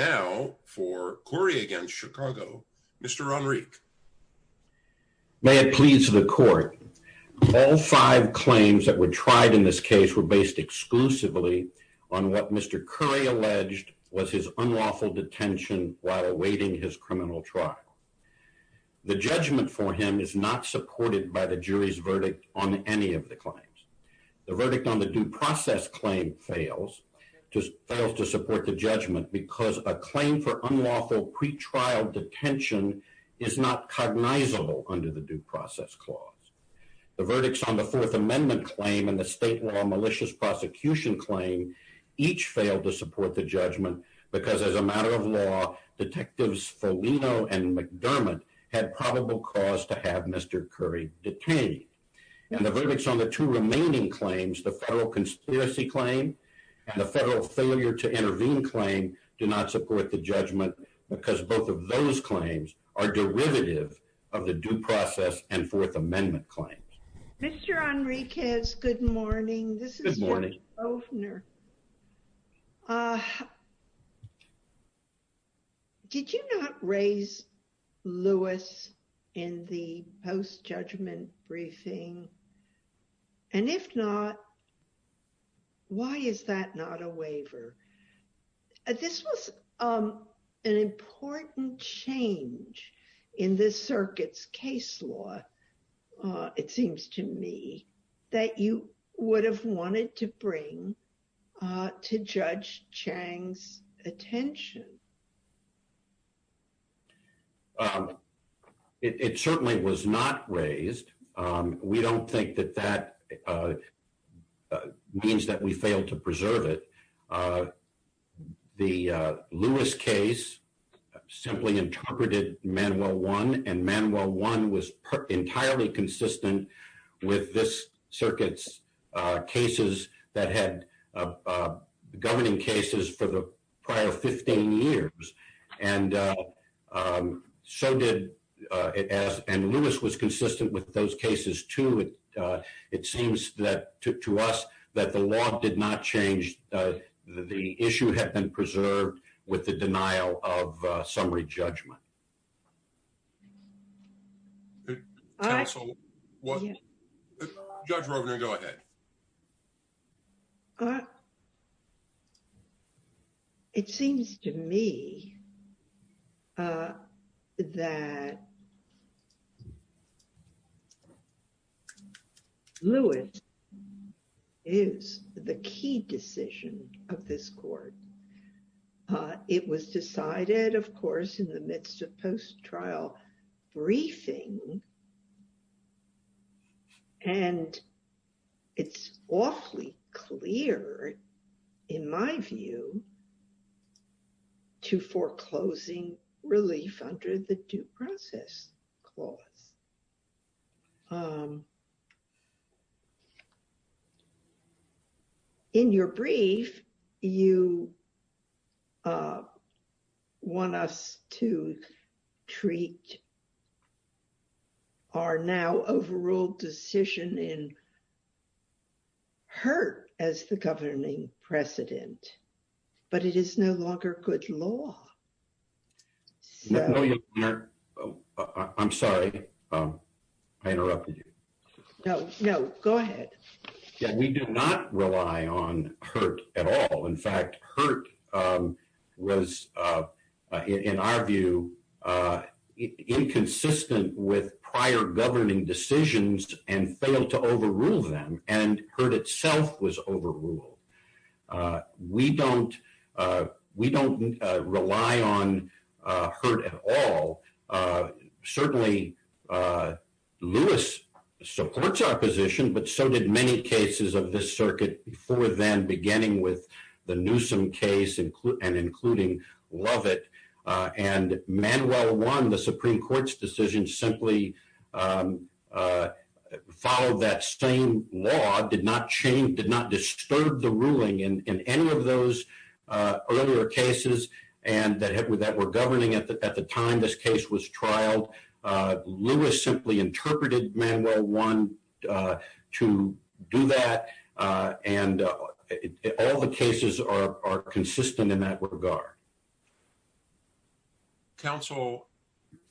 Now, for Kuri v. Chicago, Mr. Ron Reek. May it please the court, all five claims that were tried in this case were based exclusively on what Mr. Kuri alleged was his unlawful detention while awaiting his criminal trial. The judgment for him is not supported by the jury's verdict on any of the claims. The verdict on the due process claim fails to support the judgment because a claim for unlawful pretrial detention is not cognizable under the due process clause. The verdicts on the Fourth Amendment claim and the state law malicious prosecution claim each failed to support the judgment because as a matter of law, Detectives Foligno and McDermott had probable cause to have Mr. Kuri detained. And the verdicts on the two remaining claims, the federal conspiracy claim and the federal failure to intervene claim, do not support the judgment because both of those claims are derivative of the due process and Fourth Amendment claims. Mr. Ron Reek has good morning. This is morning opener. Did you not raise Lewis in the post-judgment briefing? And if not, why is that not a waiver? This was an important change in this circuit's case law, it seems to me, that you would have wanted to bring to Judge Chang's attention. It certainly was not raised. We don't think that that means that we failed to preserve it. The Lewis case simply interpreted manual one and manual one was entirely consistent with this circuit's cases that had governing cases for the prior 15 years. And so did, and Lewis was consistent with those cases too. It seems to us that the law did not change, the issue had been preserved with the denial of summary judgment. Judge Roebner, go ahead. It seems to me that Lewis is the key decision of this court. It was decided, of course, in the midst of post-trial briefing, and it's awfully clear, in my view, to foreclosing relief under the due process clause. In your brief, you want us to treat our now overruled decision in Hurt as the governing precedent, but it is no longer good law. I'm sorry, I interrupted you. No, go ahead. We do not rely on Hurt at all. In fact, Hurt was, in our view, inconsistent with prior governing decisions and failed to overrule them, and Hurt itself was overruled. We don't rely on Hurt at all. Certainly, Lewis supports our position, but so did many cases of this circuit before then, beginning with the Newsom case and including Lovett. And Manuel 1, the Supreme Court's decision, simply followed that same law, did not disturb the ruling in any of those earlier cases that were governing at the time this case was trialed. Lewis simply interpreted Manuel 1 to do that, and all the cases are consistent in that regard. Counsel,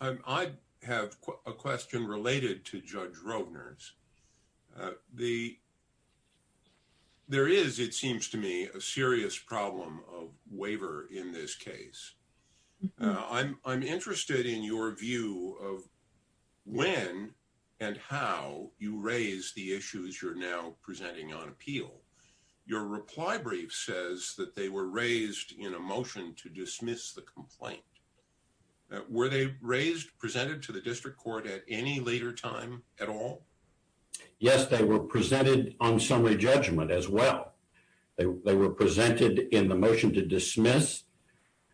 I have a question related to Judge Rovner's. There is, it seems to me, a serious problem of waiver in this case. I'm interested in your view of when and how you raise the issues you're now presenting on appeal. Your reply brief says that they were raised in a motion to dismiss the complaint. Were they raised, presented to the district court at any later time at all? Yes, they were presented on summary judgment as well. They were presented in the motion to dismiss,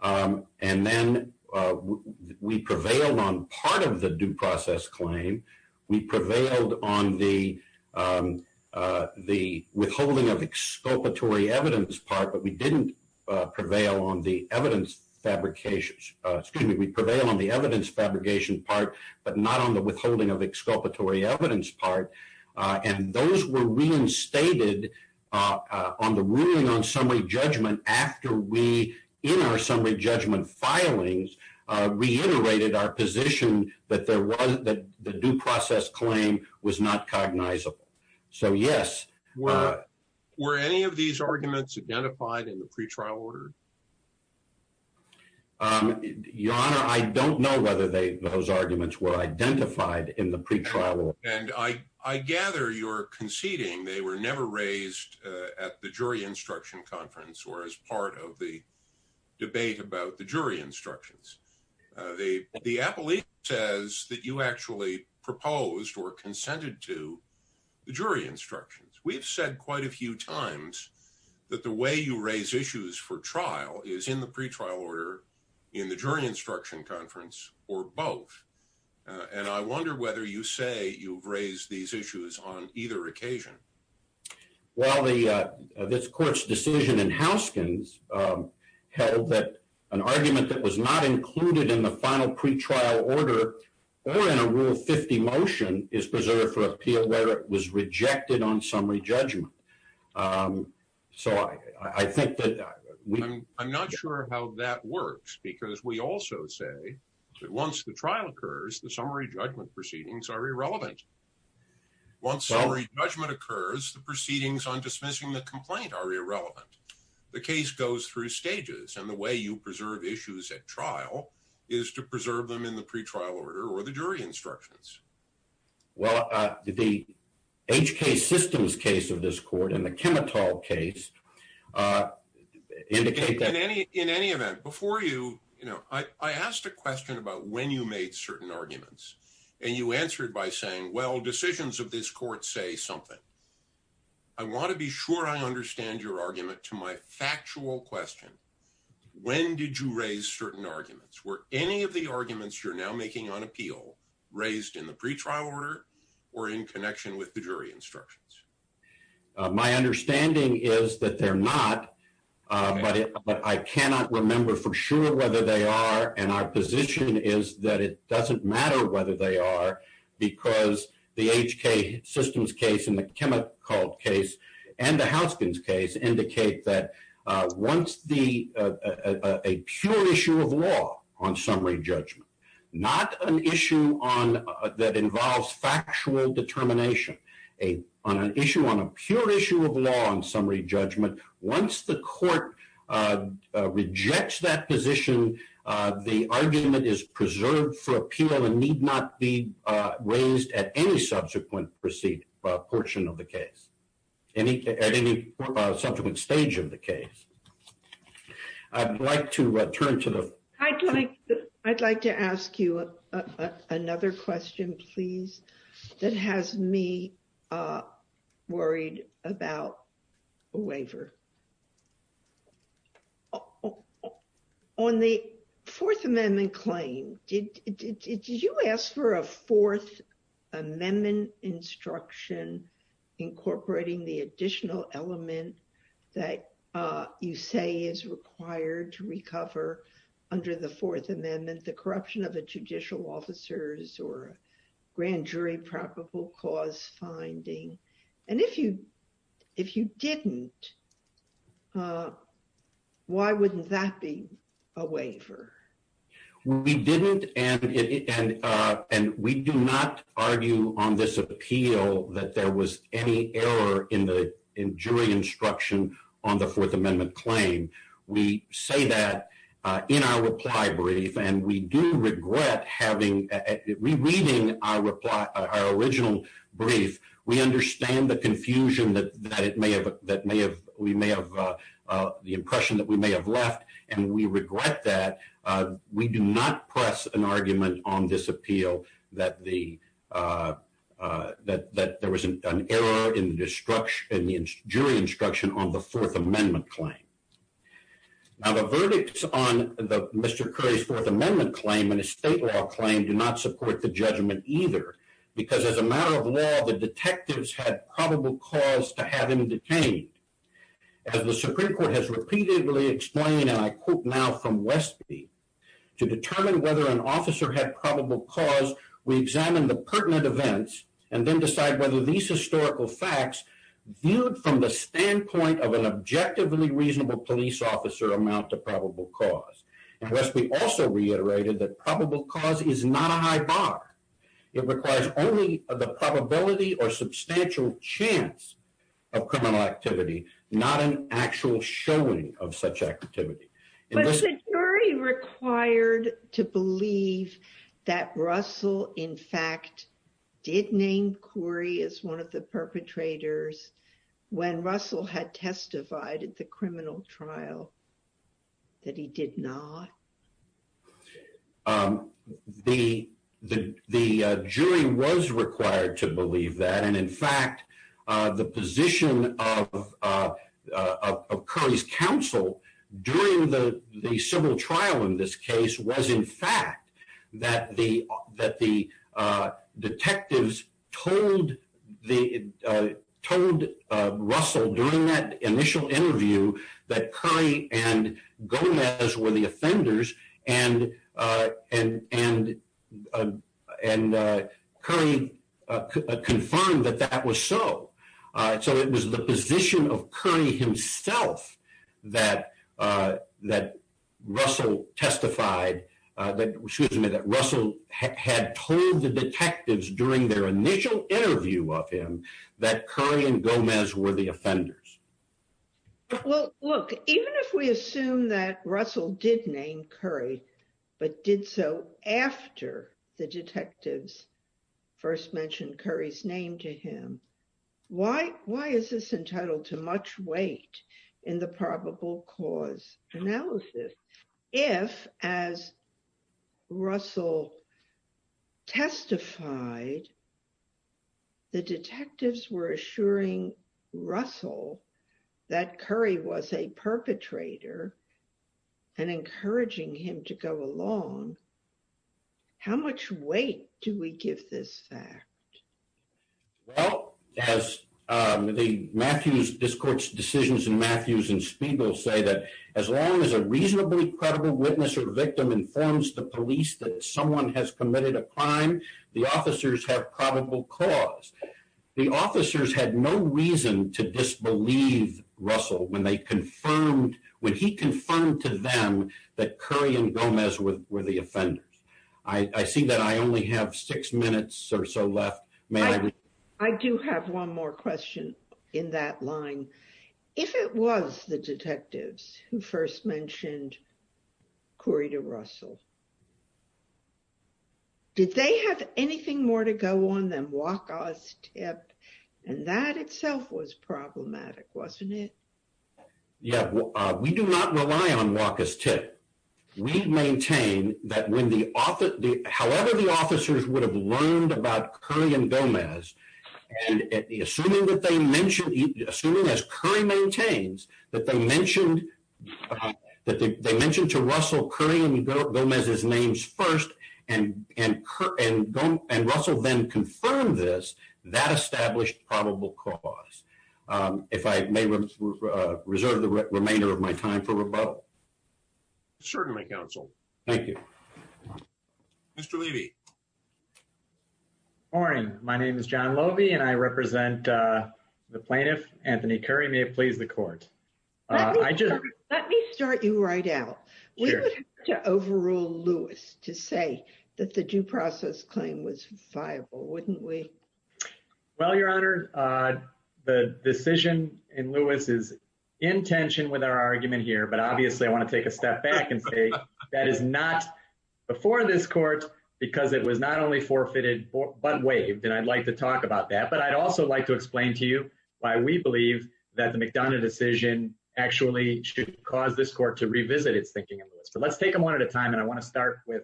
and then we prevailed on part of the due process claim. We prevailed on the withholding of exculpatory evidence part, but we didn't prevail on the evidence fabrication, excuse me, we prevailed on the evidence fabrication part, but not on the withholding of exculpatory evidence part, and those were reinstated on the ruling on summary judgment after we, in our summary judgment filings, reiterated our position that the due process claim was not cognizable. So, yes. Were any of these arguments identified in the pretrial order? Your Honor, I don't know whether those arguments were identified in the pretrial order. And I gather you're conceding they were never raised at the jury instruction conference or as part of the debate about the jury instructions. The appellate says that you actually proposed or consented to the jury instructions. We've said quite a few times that the way you raise issues for trial is in the pretrial order, in the jury instruction conference, or both. And I wonder whether you say you've raised these issues on either occasion. Well, this court's decision in Houskin's held that an argument that was not included in the final pretrial order or in a Rule 50 motion is preserved for appeal whether it was rejected on summary judgment. So, I think that... I'm not sure how that works, because we also say that once the trial occurs, the summary judgment proceedings are irrelevant. Once summary judgment occurs, the proceedings on dismissing the complaint are irrelevant. The case goes through stages, and the way you preserve issues at trial is to preserve them in the pretrial order or the jury instructions. Well, the HK Systems case of this court and the Chemitol case indicate that... In any event, before you... I asked a question about when you made certain arguments, and you answered by saying, well, decisions of this court say something. I want to be sure I understand your argument to my factual question. When did you raise certain arguments? Were any of the arguments you're now making on appeal raised in the pretrial order or in connection with the jury instructions? My understanding is that they're not, but I cannot remember for sure whether they are, and our position is that it doesn't matter whether they are, because the HK Systems case and the Chemitol case and the Houskins case indicate that once the... A pure issue of law on summary judgment, not an issue that involves factual determination on an issue, on a pure issue of law on summary judgment, once the court rejects that position, the argument is preserved for appeal and need not be raised at any subsequent portion of the case, at any subsequent stage of the case. I'd like to turn to the... I'd like to ask you another question, please, that has me worried about a waiver. On the Fourth Amendment claim, did you ask for a Fourth Amendment instruction incorporating the additional element that you say is required to recover under the Fourth Amendment the corruption of the judicial officers or grand jury probable cause finding? And if you didn't, why wouldn't that be a waiver? We didn't, and we do not argue on this appeal that there was any error in jury instruction on the Fourth Amendment claim. We say that in our reply brief, and we do regret having... Rereading our original brief, we understand the confusion that it may have... The impression that we may have left, and we regret that. We do not press an argument on this appeal that there was an error in the jury instruction on the Fourth Amendment claim. Now, the verdicts on Mr. Curry's Fourth Amendment claim and his state law claim do not support the judgment either, because as a matter of law, the detectives had probable cause to have him detained. As the Supreme Court has repeatedly explained, and I quote now from Westby, to determine whether an officer had probable cause, we examine the pertinent events and then decide whether these historical facts viewed from the standpoint of an objectively reasonable police officer amount to probable cause. And Westby also reiterated that probable cause is not a high bar. It requires only the probability or substantial chance of criminal activity, not an actual showing of such activity. But the jury required to believe that Russell, in fact, did name Curry as one of the perpetrators when Russell had testified at the criminal trial, that he did not? The jury was required to believe that. And in fact, the position of Curry's counsel during the civil trial in this case was, in fact, that the detectives told Russell during that initial interview that Curry and Gomez were the offenders, and Curry confirmed that that was so. So it was the position of Curry himself that Russell testified, excuse me, that Russell had told the detectives during their initial interview of him that Curry and Gomez were the offenders. Well, look, even if we assume that Russell did name Curry, but did so after the detectives first mentioned Curry's name to him, why is this entitled to much weight in the probable cause analysis? If, as Russell testified, the detectives were assuring Russell that Curry was a perpetrator and encouraging him to go along, how much weight do we give this fact? Well, as the Matthews Discourse decisions in Matthews and Spiegel say, that as long as a reasonably credible witness or victim informs the police that someone has committed a crime, the officers have probable cause. The officers had no reason to disbelieve Russell when they confirmed, when he confirmed to them that Curry and Gomez were the offenders. I see that I only have six minutes or so left. I do have one more question in that line. If it was the detectives who first mentioned Curry to Russell, did they have anything more to go on than WACA's tip? And that itself was problematic, wasn't it? Yeah, we do not rely on WACA's tip. We maintain that however the officers would have learned about Curry and Gomez, assuming as Curry maintains, that they mentioned to Russell Curry and Gomez's names first, and Russell then confirmed this, that established probable cause. If I may reserve the remainder of my time for rebuttal. Certainly, Counsel. Thank you. Mr. Levy. Good morning. My name is John Lobey and I represent the plaintiff, Anthony Curry. May it please the court. Let me start you right out. We would have to overrule Lewis to say that the due process claim was viable, wouldn't we? Well, Your Honor, the decision in Lewis is in tension with our argument here, but obviously I want to take a step back and say that is not before this court, because it was not only forfeited, but waived. And I'd like to talk about that. But I'd also like to explain to you why we believe that the McDonough decision actually should cause this court to revisit its thinking. So let's take them one at a time. And I want to start with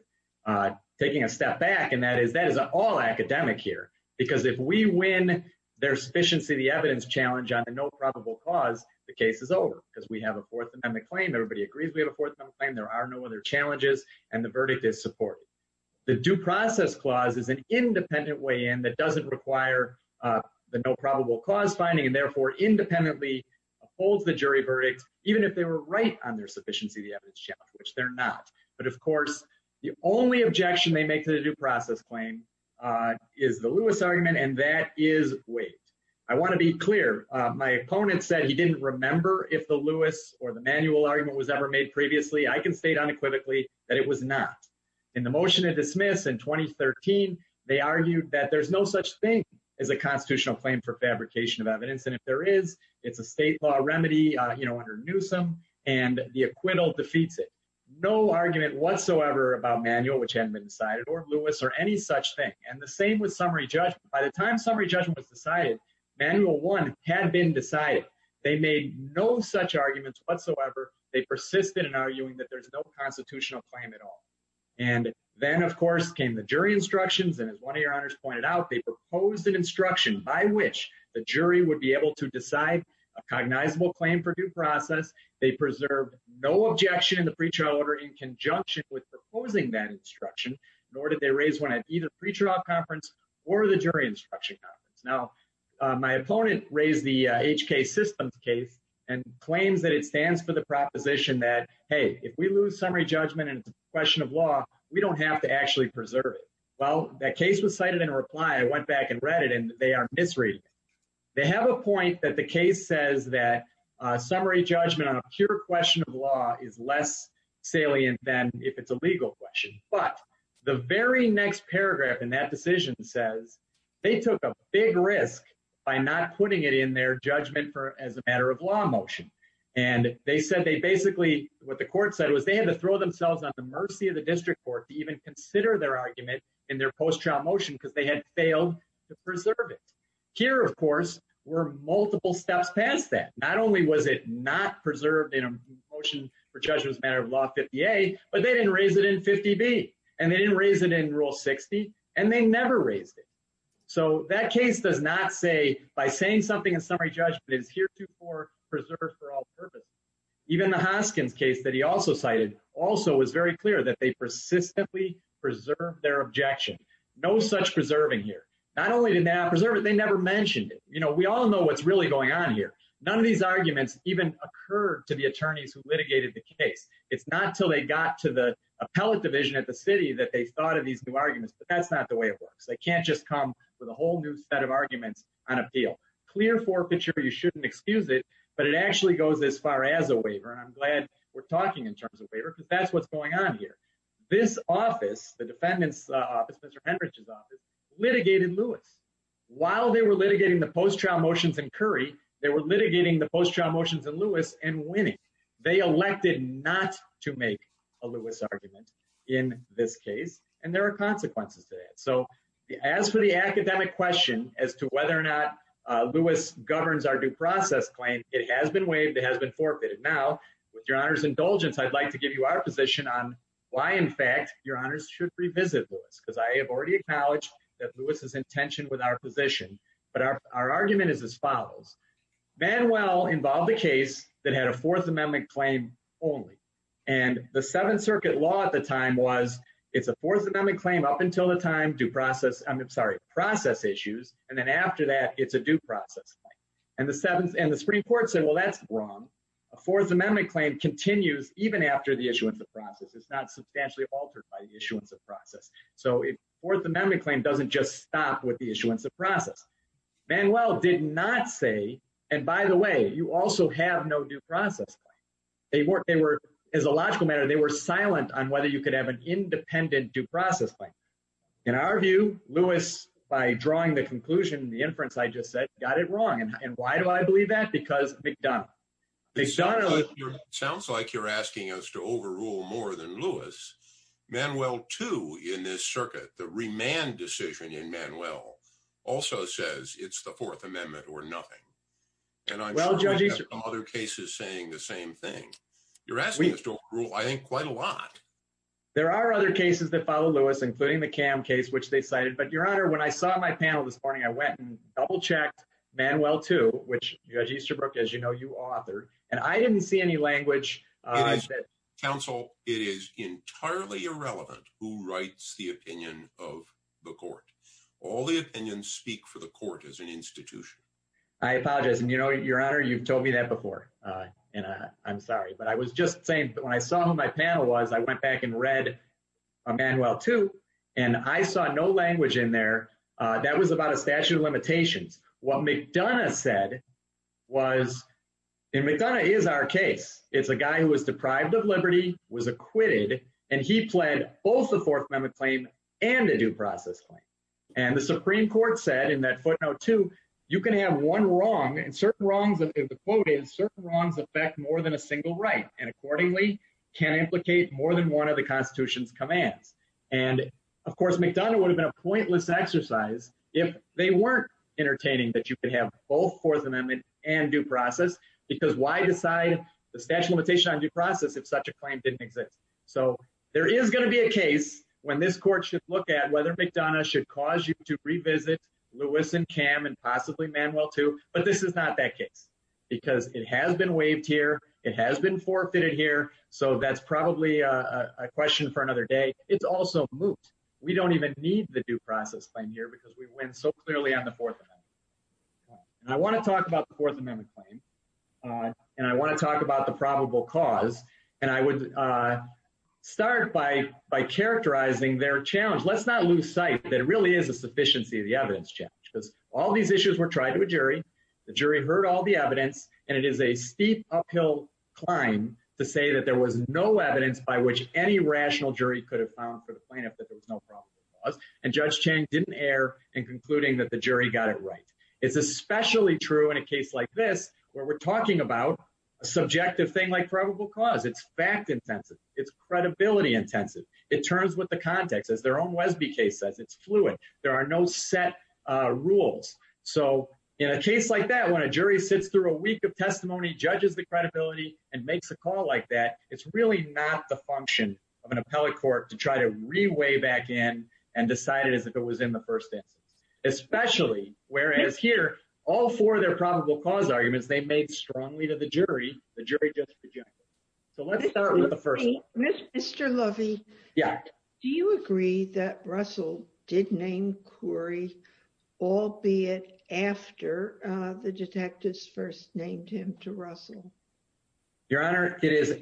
taking a step back. And that is that is all academic here, because if we win their sufficiency, the evidence challenge on the no probable cause, the case is over because we have a Fourth Amendment claim. Everybody agrees we have a Fourth Amendment claim. There are no other challenges. And the verdict is supported. The due process clause is an independent way in that doesn't require the no probable cause finding, and therefore independently upholds the jury verdict, even if they were right on their sufficiency, the evidence challenge, which they're not. But of course, the only objection they make to the due process claim is the Lewis argument. And that is waived. I want to be clear. My opponent said he didn't remember if the Lewis or the manual argument was ever made previously. I can state unequivocally that it was not in the motion to dismiss in 2013. They argued that there's no such thing as a constitutional claim for fabrication of evidence. And if there is, it's a state law remedy under Newsom and the acquittal defeats it. No argument whatsoever about manual, which hadn't been decided or Lewis or any such thing. And the same with summary judgment. By the time summary judgment was decided, manual one had been decided. They made no such arguments whatsoever. They persisted in arguing that there's no constitutional claim at all. And then, of course, came the jury instructions. And as one of your honors pointed out, they proposed an instruction by which the jury would be able to decide a cognizable claim for due process. They preserved no objection in the pre-trial order in conjunction with proposing that instruction, nor did they raise one at either pre-trial conference or the jury instruction. Now, my opponent raised the HK systems case and claims that it stands for the proposition that, hey, if we lose summary judgment and question of law, we don't have to actually preserve it. Well, that case was cited in a reply. I went back and read it and they are misreading. They have a point that the case says that summary judgment on a pure question of law is less salient than if it's a legal question. But the very next paragraph in that decision says they took a big risk by not putting it in their judgment as a matter of law motion. And they said they basically what the court said was they had to throw themselves at the mercy of the district court to even consider their argument in their post-trial motion because they had failed to preserve it. Here, of course, were multiple steps past that. Not only was it not preserved in a motion for judgment as a matter of law 50A, but they didn't raise it in 50B. And they didn't raise it in Rule 60. And they never raised it. So that case does not say by saying something in summary judgment is heretofore preserved for all purposes. Even the Hoskins case that he also cited also is very clear that they persistently preserve their objection. No such preserving here. Not only did they not preserve it, they never mentioned it. We all know what's really going on here. None of these arguments even occurred to the attorneys who litigated the case. It's not until they got to the appellate division at the city that they thought of these new arguments. But that's not the way it works. They can't just come with a whole new set of arguments on appeal. Clear forfeiture, you shouldn't excuse it, but it actually goes as far as a waiver. And I'm glad we're talking in terms of waiver because that's what's going on here. This office, the defendant's office, Mr. Henrich's office, litigated Lewis. While they were litigating the post-trial motions in Curry, they were litigating the post-trial motions in Lewis and winning. They elected not to make a Lewis argument in this case. And there are consequences to that. So as for the academic question as to whether or not Lewis governs our due process claim, it has been waived. It has been forfeited. Now, with your honor's indulgence, I'd like to give you our position on why, in fact, your honors should revisit Lewis. Because I have already acknowledged that Lewis is in tension with our position. But our argument is as follows. Manuel involved a case that had a Fourth Amendment claim only. And the Seventh Circuit law at the time was it's a Fourth Amendment claim up until the time due process. I'm sorry, process issues. And then after that, it's a due process. And the seventh and the Supreme Court said, well, that's wrong. A Fourth Amendment claim continues even after the issuance of process. It's not substantially altered by the issuance of process. So a Fourth Amendment claim doesn't just stop with the issuance of process. Manuel did not say, and by the way, you also have no due process. They weren't they were as a logical matter. They were silent on whether you could have an independent due process. In our view, Lewis, by drawing the conclusion, the inference I just said, got it wrong. And why do I believe that? Because McDonald McDonald sounds like you're asking us to overrule more than Lewis. Manuel, too, in this circuit, the remand decision in Manuel also says it's the Fourth Amendment or nothing. And I'm sure other cases saying the same thing. You're asking us to rule, I think, quite a lot. There are other cases that follow Lewis, including the cam case, which they cited. But, Your Honor, when I saw my panel this morning, I went and double checked Manuel, too, which, Judge Easterbrook, as you know, you authored. And I didn't see any language. I said, counsel, it is entirely irrelevant who writes the opinion of the court. All the opinions speak for the court as an institution. I apologize. And, you know, Your Honor, you've told me that before. And I'm sorry. But I was just saying that when I saw who my panel was, I went back and read Manuel, too. And I saw no language in there. That was about a statute of limitations. What McDonough said was in McDonough is our case. It's a guy who was deprived of liberty, was acquitted, and he pled both the Fourth Amendment claim and a due process claim. And the Supreme Court said in that footnote, too, you can have one wrong and certain wrongs. And the quote is certain wrongs affect more than a single right and accordingly can implicate more than one of the Constitution's commands. And, of course, McDonough would have been a pointless exercise if they weren't entertaining that you could have both Fourth Amendment and due process. Because why decide the statute of limitation on due process if such a claim didn't exist? So there is going to be a case when this court should look at whether McDonough should cause you to revisit Lewis and Cam and possibly Manuel, too. But this is not that case because it has been waived here. It has been forfeited here. So that's probably a question for another day. It's also moot. We don't even need the due process claim here because we win so clearly on the Fourth Amendment. And I want to talk about the Fourth Amendment claim and I want to talk about the probable cause. And I would start by characterizing their challenge. Let's not lose sight that it really is a sufficiency of the evidence challenge because all these issues were tried to a jury. The jury heard all the evidence. And it is a steep uphill climb to say that there was no evidence by which any rational jury could have found for the plaintiff that there was no probable cause. And Judge Chang didn't err in concluding that the jury got it right. It's especially true in a case like this where we're talking about a subjective thing like probable cause. It's fact intensive. It's credibility intensive. It turns with the context. As their own Wesby case says, it's fluid. There are no set rules. So in a case like that, when a jury sits through a week of testimony, judges the credibility and makes a call like that, it's really not the function of an appellate court to try to reweigh back in and decide it as if it was in the first instance. Especially whereas here, all four of their probable cause arguments they made strongly to the jury. The jury just rejected. So let's start with the first one. Mr. Lovey, do you agree that Russell did name Curry, albeit after the detectives first named him to Russell? Your Honor, it is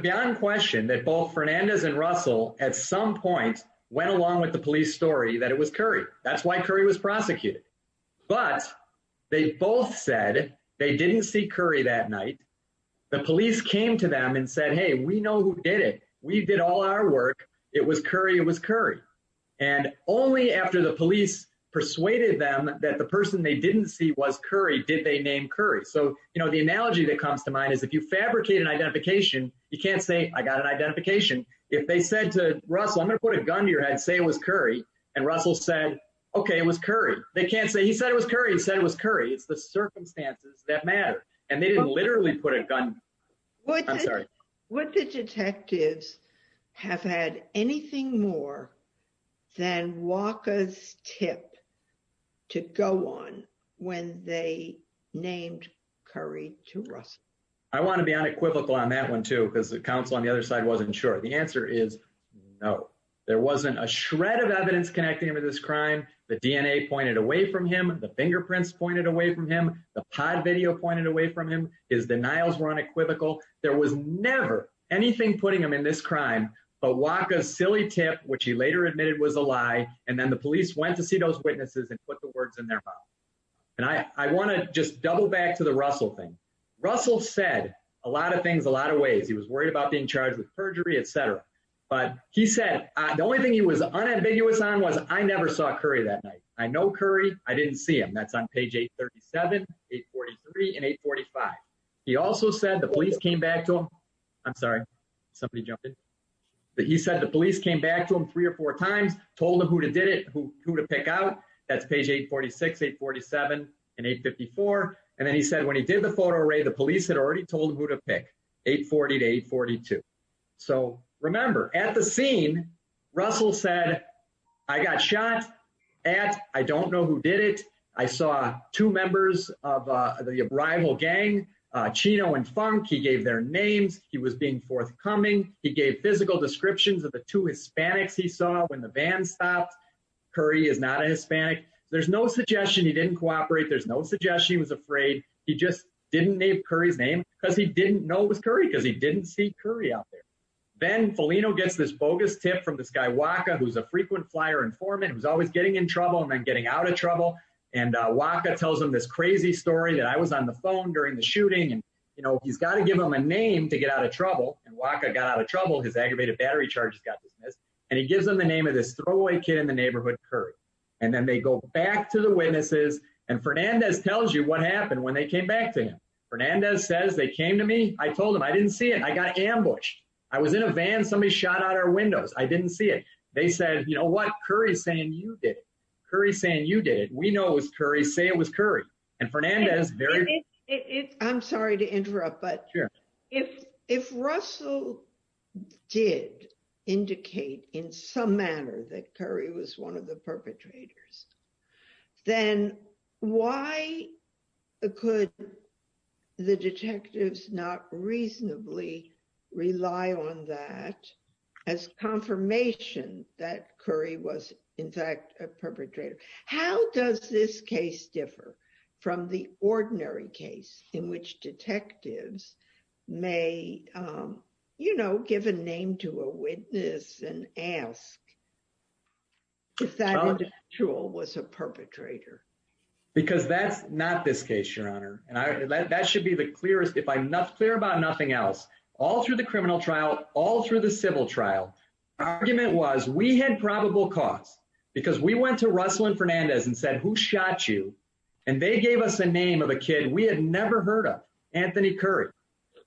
beyond question that both Fernandez and Russell at some point went along with the police story that it was Curry. That's why Curry was prosecuted. But they both said they didn't see Curry that night. The police came to them and said, hey, we know who did it. We did all our work. It was Curry. It was Curry. And only after the police persuaded them that the person they didn't see was Curry, did they name Curry. So, you know, the analogy that comes to mind is if you fabricate an identification, you can't say I got an identification. If they said to Russell, I'm going to put a gun to your head, say it was Curry. And Russell said, OK, it was Curry. They can't say he said it was Curry. He said it was Curry. It's the circumstances that matter. And they didn't literally put a gun. I'm sorry. Would the detectives have had anything more than Walker's tip to go on when they named Curry to Russell? I want to be unequivocal on that one, too, because the counsel on the other side wasn't sure. The answer is no, there wasn't a shred of evidence connecting him to this crime. The DNA pointed away from him. The fingerprints pointed away from him. The pod video pointed away from him. His denials were unequivocal. There was never anything putting him in this crime. But Walker's silly tip, which he later admitted was a lie. And then the police went to see those witnesses and put the words in their mouth. And I want to just double back to the Russell thing. Russell said a lot of things a lot of ways. He was worried about being charged with perjury, et cetera. But he said the only thing he was unambiguous on was I never saw Curry that night. I know Curry. I didn't see him. That's on page 837, 843 and 845. He also said the police came back to him. I'm sorry. Somebody jumped in. He said the police came back to him three or four times, told him who did it, who to pick out. That's page 846, 847 and 854. And then he said when he did the photo array, the police had already told him who to pick, 840 to 842. So remember at the scene, Russell said, I got shot at. I don't know who did it. I saw two members of the rival gang, Chino and Funk. He gave their names. He was being forthcoming. He gave physical descriptions of the two Hispanics he saw when the van stopped. Curry is not a Hispanic. There's no suggestion he didn't cooperate. There's no suggestion he was afraid. He just didn't name Curry's name because he didn't know it was Curry, because he didn't see Curry out there. Then Foligno gets this bogus tip from this guy, Waka, who's a frequent flyer informant, who's always getting in trouble and then getting out of trouble. And Waka tells him this crazy story that I was on the phone during the shooting. And, you know, he's got to give him a name to get out of trouble. And Waka got out of trouble. His aggravated battery charges got dismissed. And he gives them the name of this throwaway kid in the neighborhood, Curry. And then they go back to the witnesses. And Fernandez tells you what happened when they came back to him. Fernandez says they came to me. I told him I didn't see it. I got ambushed. I was in a van. Somebody shot out our windows. I didn't see it. They said, you know what? Curry's saying you did it. Curry's saying you did it. We know it was Curry. Say it was Curry. And Fernandez very... I'm sorry to interrupt, but if Russell did indicate in some manner that Curry was one of the perpetrators, then why could the detectives not reasonably rely on that as confirmation that Curry was in fact a perpetrator? How does this case differ from the ordinary case in which detectives may, you know, give a name to a witness and ask if that individual was a perpetrator? Because that's not this case, Your Honor. And that should be the clearest. If I'm clear about nothing else, all through the criminal trial, all through the civil trial, the argument was we had probable cause because we went to Russell and Fernandez and said, who shot you? And they gave us a name of a kid we had never heard of, Anthony Curry.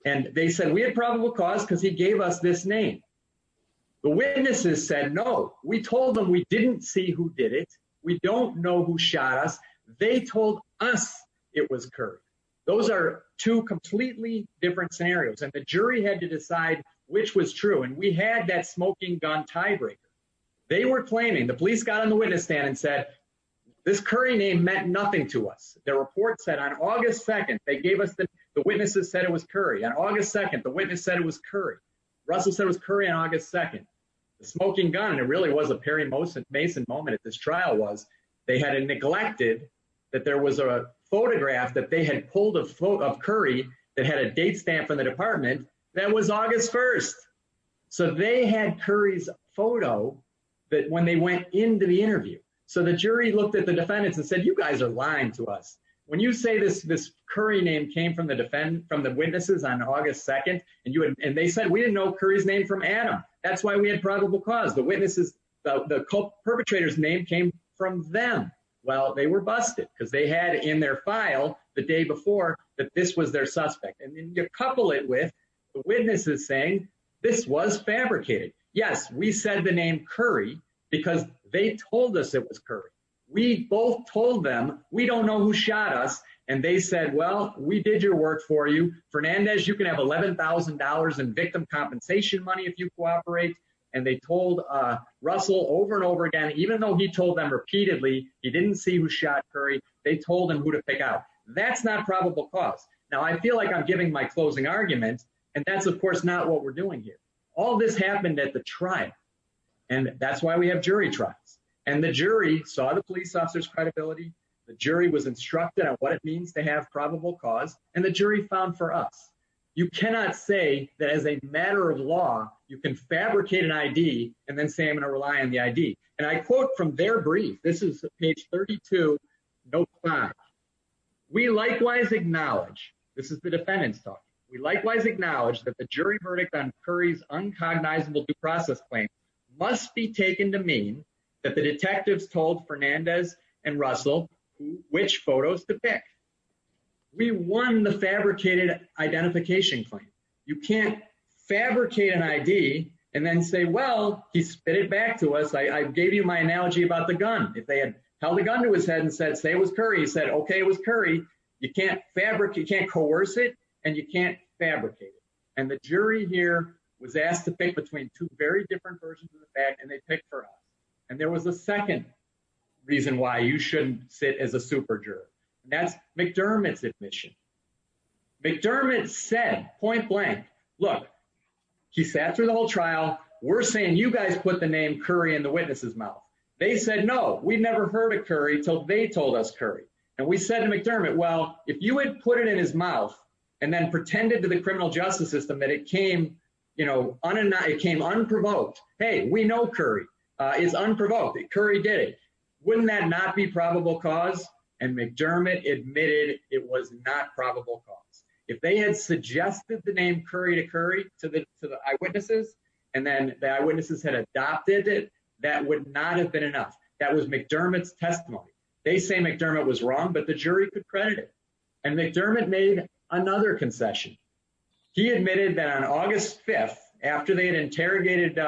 And they said we had probable cause because he gave us this name. The witnesses said, no, we told them we didn't see who did it. We don't know who shot us. They told us it was Curry. Those are two completely different scenarios. And the jury had to decide which was true. And we had that smoking gun tiebreaker. They were claiming the police got on the witness stand and said this Curry name meant nothing to us. The report said on August 2nd, they gave us the witnesses said it was Curry. On August 2nd, the witness said it was Curry. Russell said it was Curry on August 2nd. The smoking gun, and it really was a Perry Mason moment at this trial, was they had neglected that there was a photograph that they had pulled of Curry that had a date stamp from the department. That was August 1st. So they had Curry's photo that when they went into the interview. So the jury looked at the defendants and said, you guys are lying to us. When you say this, this Curry name came from the defend from the witnesses on August 2nd. And they said we didn't know Curry's name from Adam. That's why we had probable cause. The witnesses, the perpetrators name came from them. Well, they were busted because they had in their file the day before that this was their suspect. And then you couple it with the witnesses saying this was fabricated. Yes, we said the name Curry because they told us it was Curry. We both told them we don't know who shot us. And they said, well, we did your work for you. Fernandez, you can have $11,000 in victim compensation money if you cooperate. And they told Russell over and over again, even though he told them repeatedly, he didn't see who shot Curry. They told him who to pick out. That's not probable cause. Now, I feel like I'm giving my closing argument. And that's, of course, not what we're doing here. All this happened at the trial. And that's why we have jury trials. And the jury saw the police officer's credibility. The jury was instructed on what it means to have probable cause. And the jury found for us, you cannot say that as a matter of law, you can fabricate an I.D. And then say I'm going to rely on the I.D. And I quote from their brief. This is page 32. We likewise acknowledge this is the defendant's talk. We likewise acknowledge that the jury verdict on Curry's uncognizable due process claim must be taken to mean that the detectives told Fernandez and Russell which photos to pick. We won the fabricated identification claim. You can't fabricate an I.D. and then say, well, he spit it back to us. I gave you my analogy about the gun. If they had held a gun to his head and said, say it was Curry, he said, OK, it was Curry. You can't fabric. You can't coerce it. And you can't fabricate it. And the jury here was asked to pick between two very different versions of the fact. And they picked for us. And there was a second reason why you shouldn't sit as a super jury. That's McDermott's admission. McDermott said point blank. Look, he sat through the whole trial. We're saying you guys put the name Curry in the witness's mouth. They said, no, we never heard of Curry till they told us Curry. And we said to McDermott, well, if you would put it in his mouth and then pretended to the criminal justice system that it came, you know, on and it came unprovoked. Hey, we know Curry is unprovoked. Curry did it. Wouldn't that not be probable cause? And McDermott admitted it was not probable cause. If they had suggested the name Curry to Curry to the eyewitnesses and then the eyewitnesses had adopted it, that would not have been enough. That was McDermott's testimony. They say McDermott was wrong, but the jury could credit it. And McDermott made another concession. He admitted that on August 5th, after they had interrogated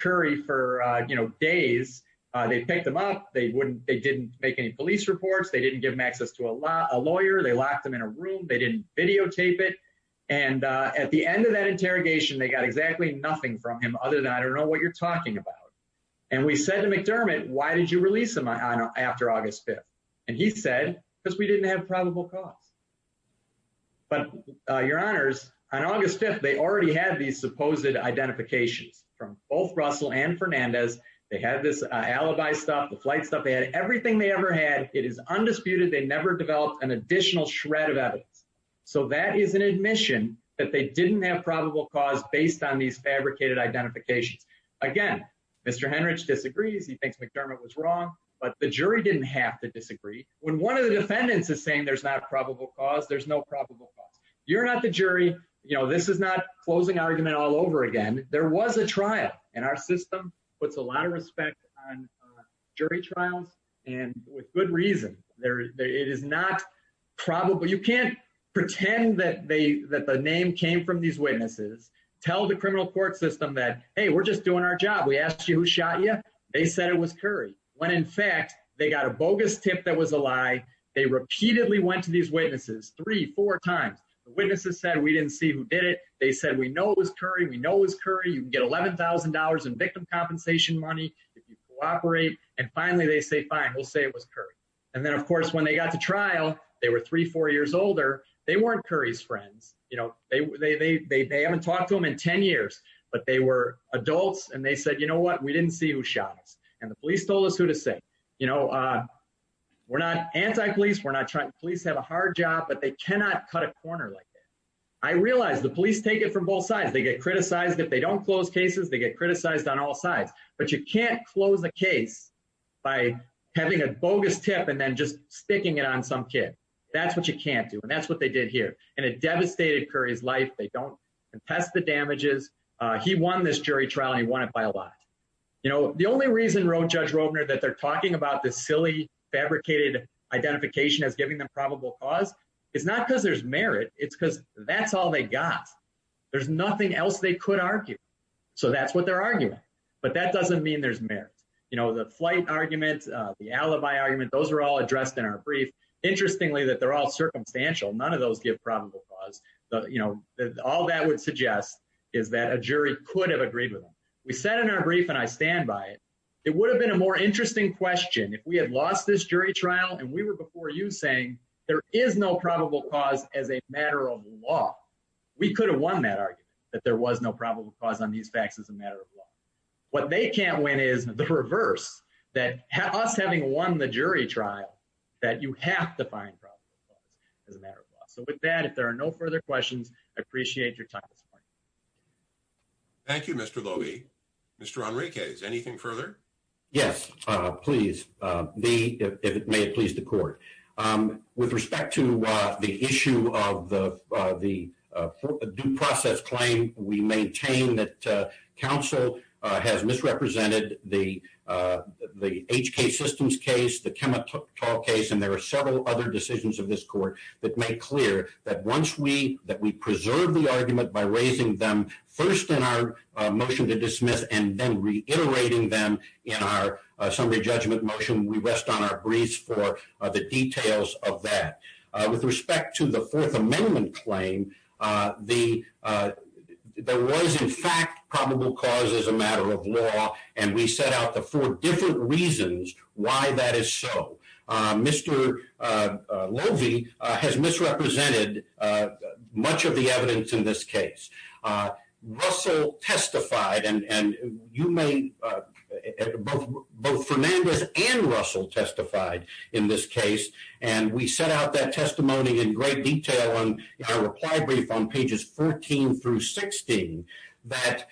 Curry for days, they picked him up. They wouldn't they didn't make any police reports. They didn't give him access to a lawyer. They locked him in a room. They didn't videotape it. And at the end of that interrogation, they got exactly nothing from him other than I don't know what you're talking about. And we said to McDermott, why did you release him after August 5th? And he said, because we didn't have probable cause. But your honors, on August 5th, they already had these supposed identifications from both Russell and Fernandez. They had this alibi stuff, the flight stuff, everything they ever had. It is undisputed. They never developed an additional shred of evidence. So that is an admission that they didn't have probable cause based on these fabricated identifications. Again, Mr. Henrich disagrees. He thinks McDermott was wrong, but the jury didn't have to disagree. When one of the defendants is saying there's not probable cause, there's no probable cause. You're not the jury. You know, this is not closing argument all over again. There was a trial, and our system puts a lot of respect on jury trials and with good reason. It is not probable. You can't pretend that the name came from these witnesses, tell the criminal court system that, hey, we're just doing our job. We asked you who shot you. They said it was Curry, when in fact, they got a bogus tip that was a lie. They repeatedly went to these witnesses three, four times. The witnesses said we didn't see who did it. They said, we know it was Curry. We know it was Curry. You can get $11,000 in victim compensation money if you cooperate. And finally, they say, fine, we'll say it was Curry. And then, of course, when they got to trial, they were three, four years older. They weren't Curry's friends. You know, they haven't talked to him in 10 years, but they were adults. And they said, you know what? We didn't see who shot us. And the police told us who to say. You know, we're not anti-police. We're not trying. Police have a hard job, but they cannot cut a corner like that. I realize the police take it from both sides. They get criticized. If they don't close cases, they get criticized on all sides. But you can't close a case by having a bogus tip and then just sticking it on some kid. That's what you can't do. And that's what they did here. And it devastated Curry's life. They don't contest the damages. He won this jury trial, and he won it by a lot. You know, the only reason Judge Robner that they're talking about this silly, fabricated identification as giving them probable cause, it's not because there's merit. It's because that's all they got. There's nothing else they could argue. So that's what they're arguing. But that doesn't mean there's merit. You know, the flight argument, the alibi argument, those are all addressed in our brief. Interestingly, that they're all circumstantial. None of those give probable cause. You know, all that would suggest is that a jury could have agreed with them. We said in our brief, and I stand by it, it would have been a more interesting question if we had lost this jury trial. And we were before you saying there is no probable cause as a matter of law. We could have won that argument, that there was no probable cause on these facts as a matter of law. What they can't win is the reverse, that us having won the jury trial, that you have to find probable cause as a matter of law. So with that, if there are no further questions, I appreciate your time this morning. Thank you, Mr. Loewe. Mr. Enriquez, anything further? Yes, please. May it please the court. With respect to the issue of the due process claim, we maintain that counsel has misrepresented the HK Systems case, the Kemah Tall case, and there are several other decisions of this court that make clear that once we preserve the argument by raising them first in our motion to dismiss and then reiterating them in our summary judgment motion, we rest on our briefs for the details of that. With respect to the Fourth Amendment claim, there was in fact probable cause as a matter of law, and we set out the four different reasons why that is so. Mr. Loewe has misrepresented much of the evidence in this case. Russell testified, and both Fernandez and Russell testified in this case, and we set out that testimony in great detail in our reply brief on pages 14 through 16, that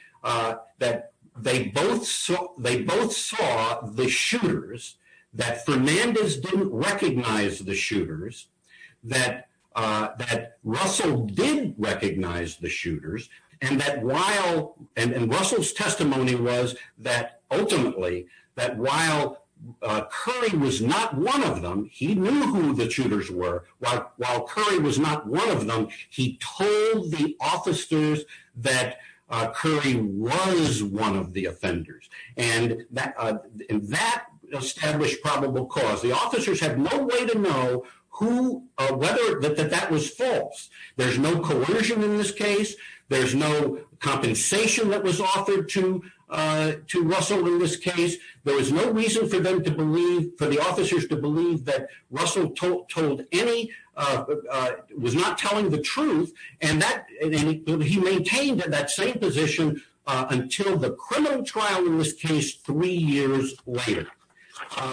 they both saw the shooters, that Fernandez didn't recognize the shooters, that Russell did recognize the shooters, and that while – and Russell's testimony was that ultimately, that while Curry was not one of them, he knew who the shooters were. While Curry was not one of them, he told the officers that Curry was one of the offenders, and that established probable cause. The officers had no way to know who – whether – that that was false. There's no coercion in this case. There's no compensation that was offered to Russell in this case. There was no reason for them to believe – for the officers to believe that Russell told any – was not telling the truth, and that – and he maintained that same position until the criminal trial in this case three years later.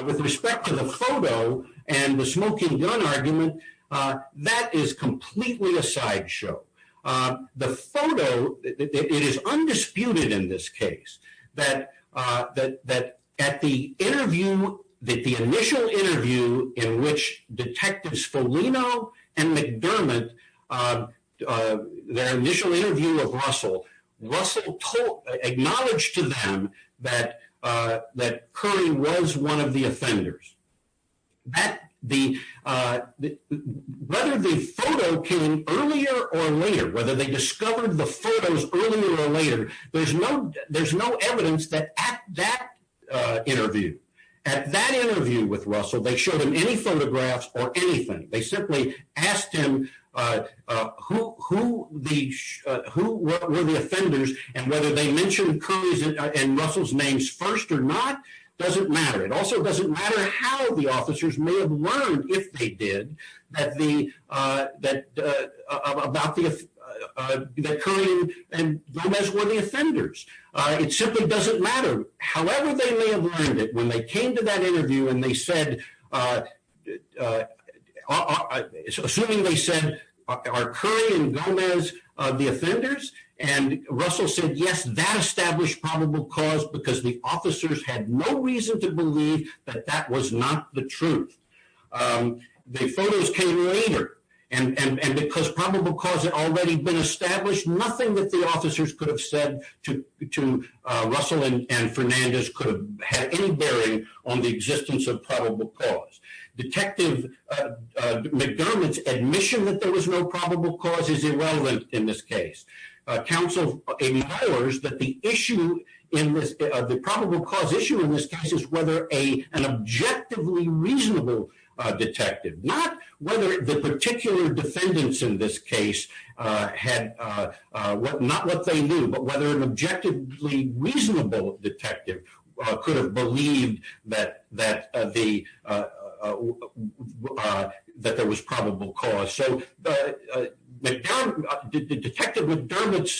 With respect to the photo and the smoking gun argument, that is completely a sideshow. The photo – it is undisputed in this case that at the interview – that the initial interview in which Detectives Foligno and McDermott – their initial interview of Russell, Russell acknowledged to them that Curry was one of the offenders. That – the – whether the photo came earlier or later, whether they discovered the photos earlier or later, there's no – there's no evidence that at that interview – at that interview with Russell, they showed him any photographs or anything. They simply asked him who the – who were the offenders, and whether they mentioned Curry's and Russell's names first or not doesn't matter. It also doesn't matter how the officers may have learned, if they did, that the – that – about the – that Curry and Gomez were the offenders. It simply doesn't matter. However they may have learned it, when they came to that interview and they said – assuming they said, are Curry and Gomez the offenders? And Russell said, yes, that established probable cause, because the officers had no reason to believe that that was not the truth. The photos came later, and because probable cause had already been established, nothing that the officers could have said to Russell and Fernandez could have had any bearing on the existence of probable cause. Detective McDermott's admission that there was no probable cause is irrelevant in this case. Counsel empowers that the issue in this – the probable cause issue in this case is whether an objectively reasonable detective – not whether the particular defendants in this case had – not what they knew, but whether an objectively reasonable detective could have believed that the – that there was probable cause. So McDermott – Detective McDermott's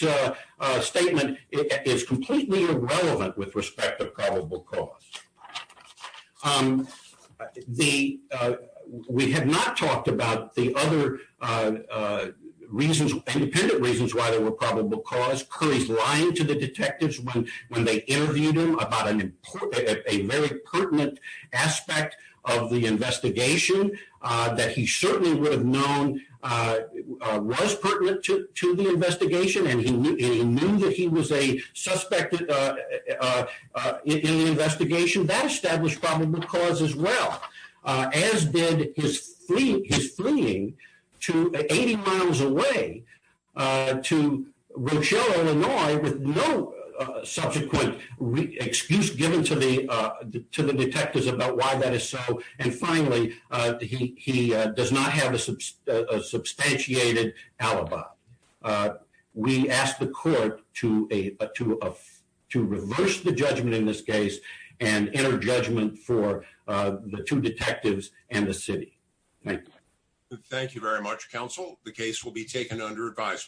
statement is completely irrelevant with respect to probable cause. The – we have not talked about the other reasons – independent reasons why there were probable cause. Curry's lying to the detectives when they interviewed him about an – a very pertinent aspect of the investigation that he certainly would have known was pertinent to the investigation, and he knew that he was a suspect in the investigation that established probable cause as well, as did his fleeing to – 80 miles away to Rochelle, Illinois, with no subsequent excuse given to the detectives about why that is so. And finally, he does not have a substantiated alibi. We ask the court to a – to reverse the judgment in this case and enter judgment for the two detectives and the city. Thank you. Thank you very much, counsel. The case will be taken under advisement.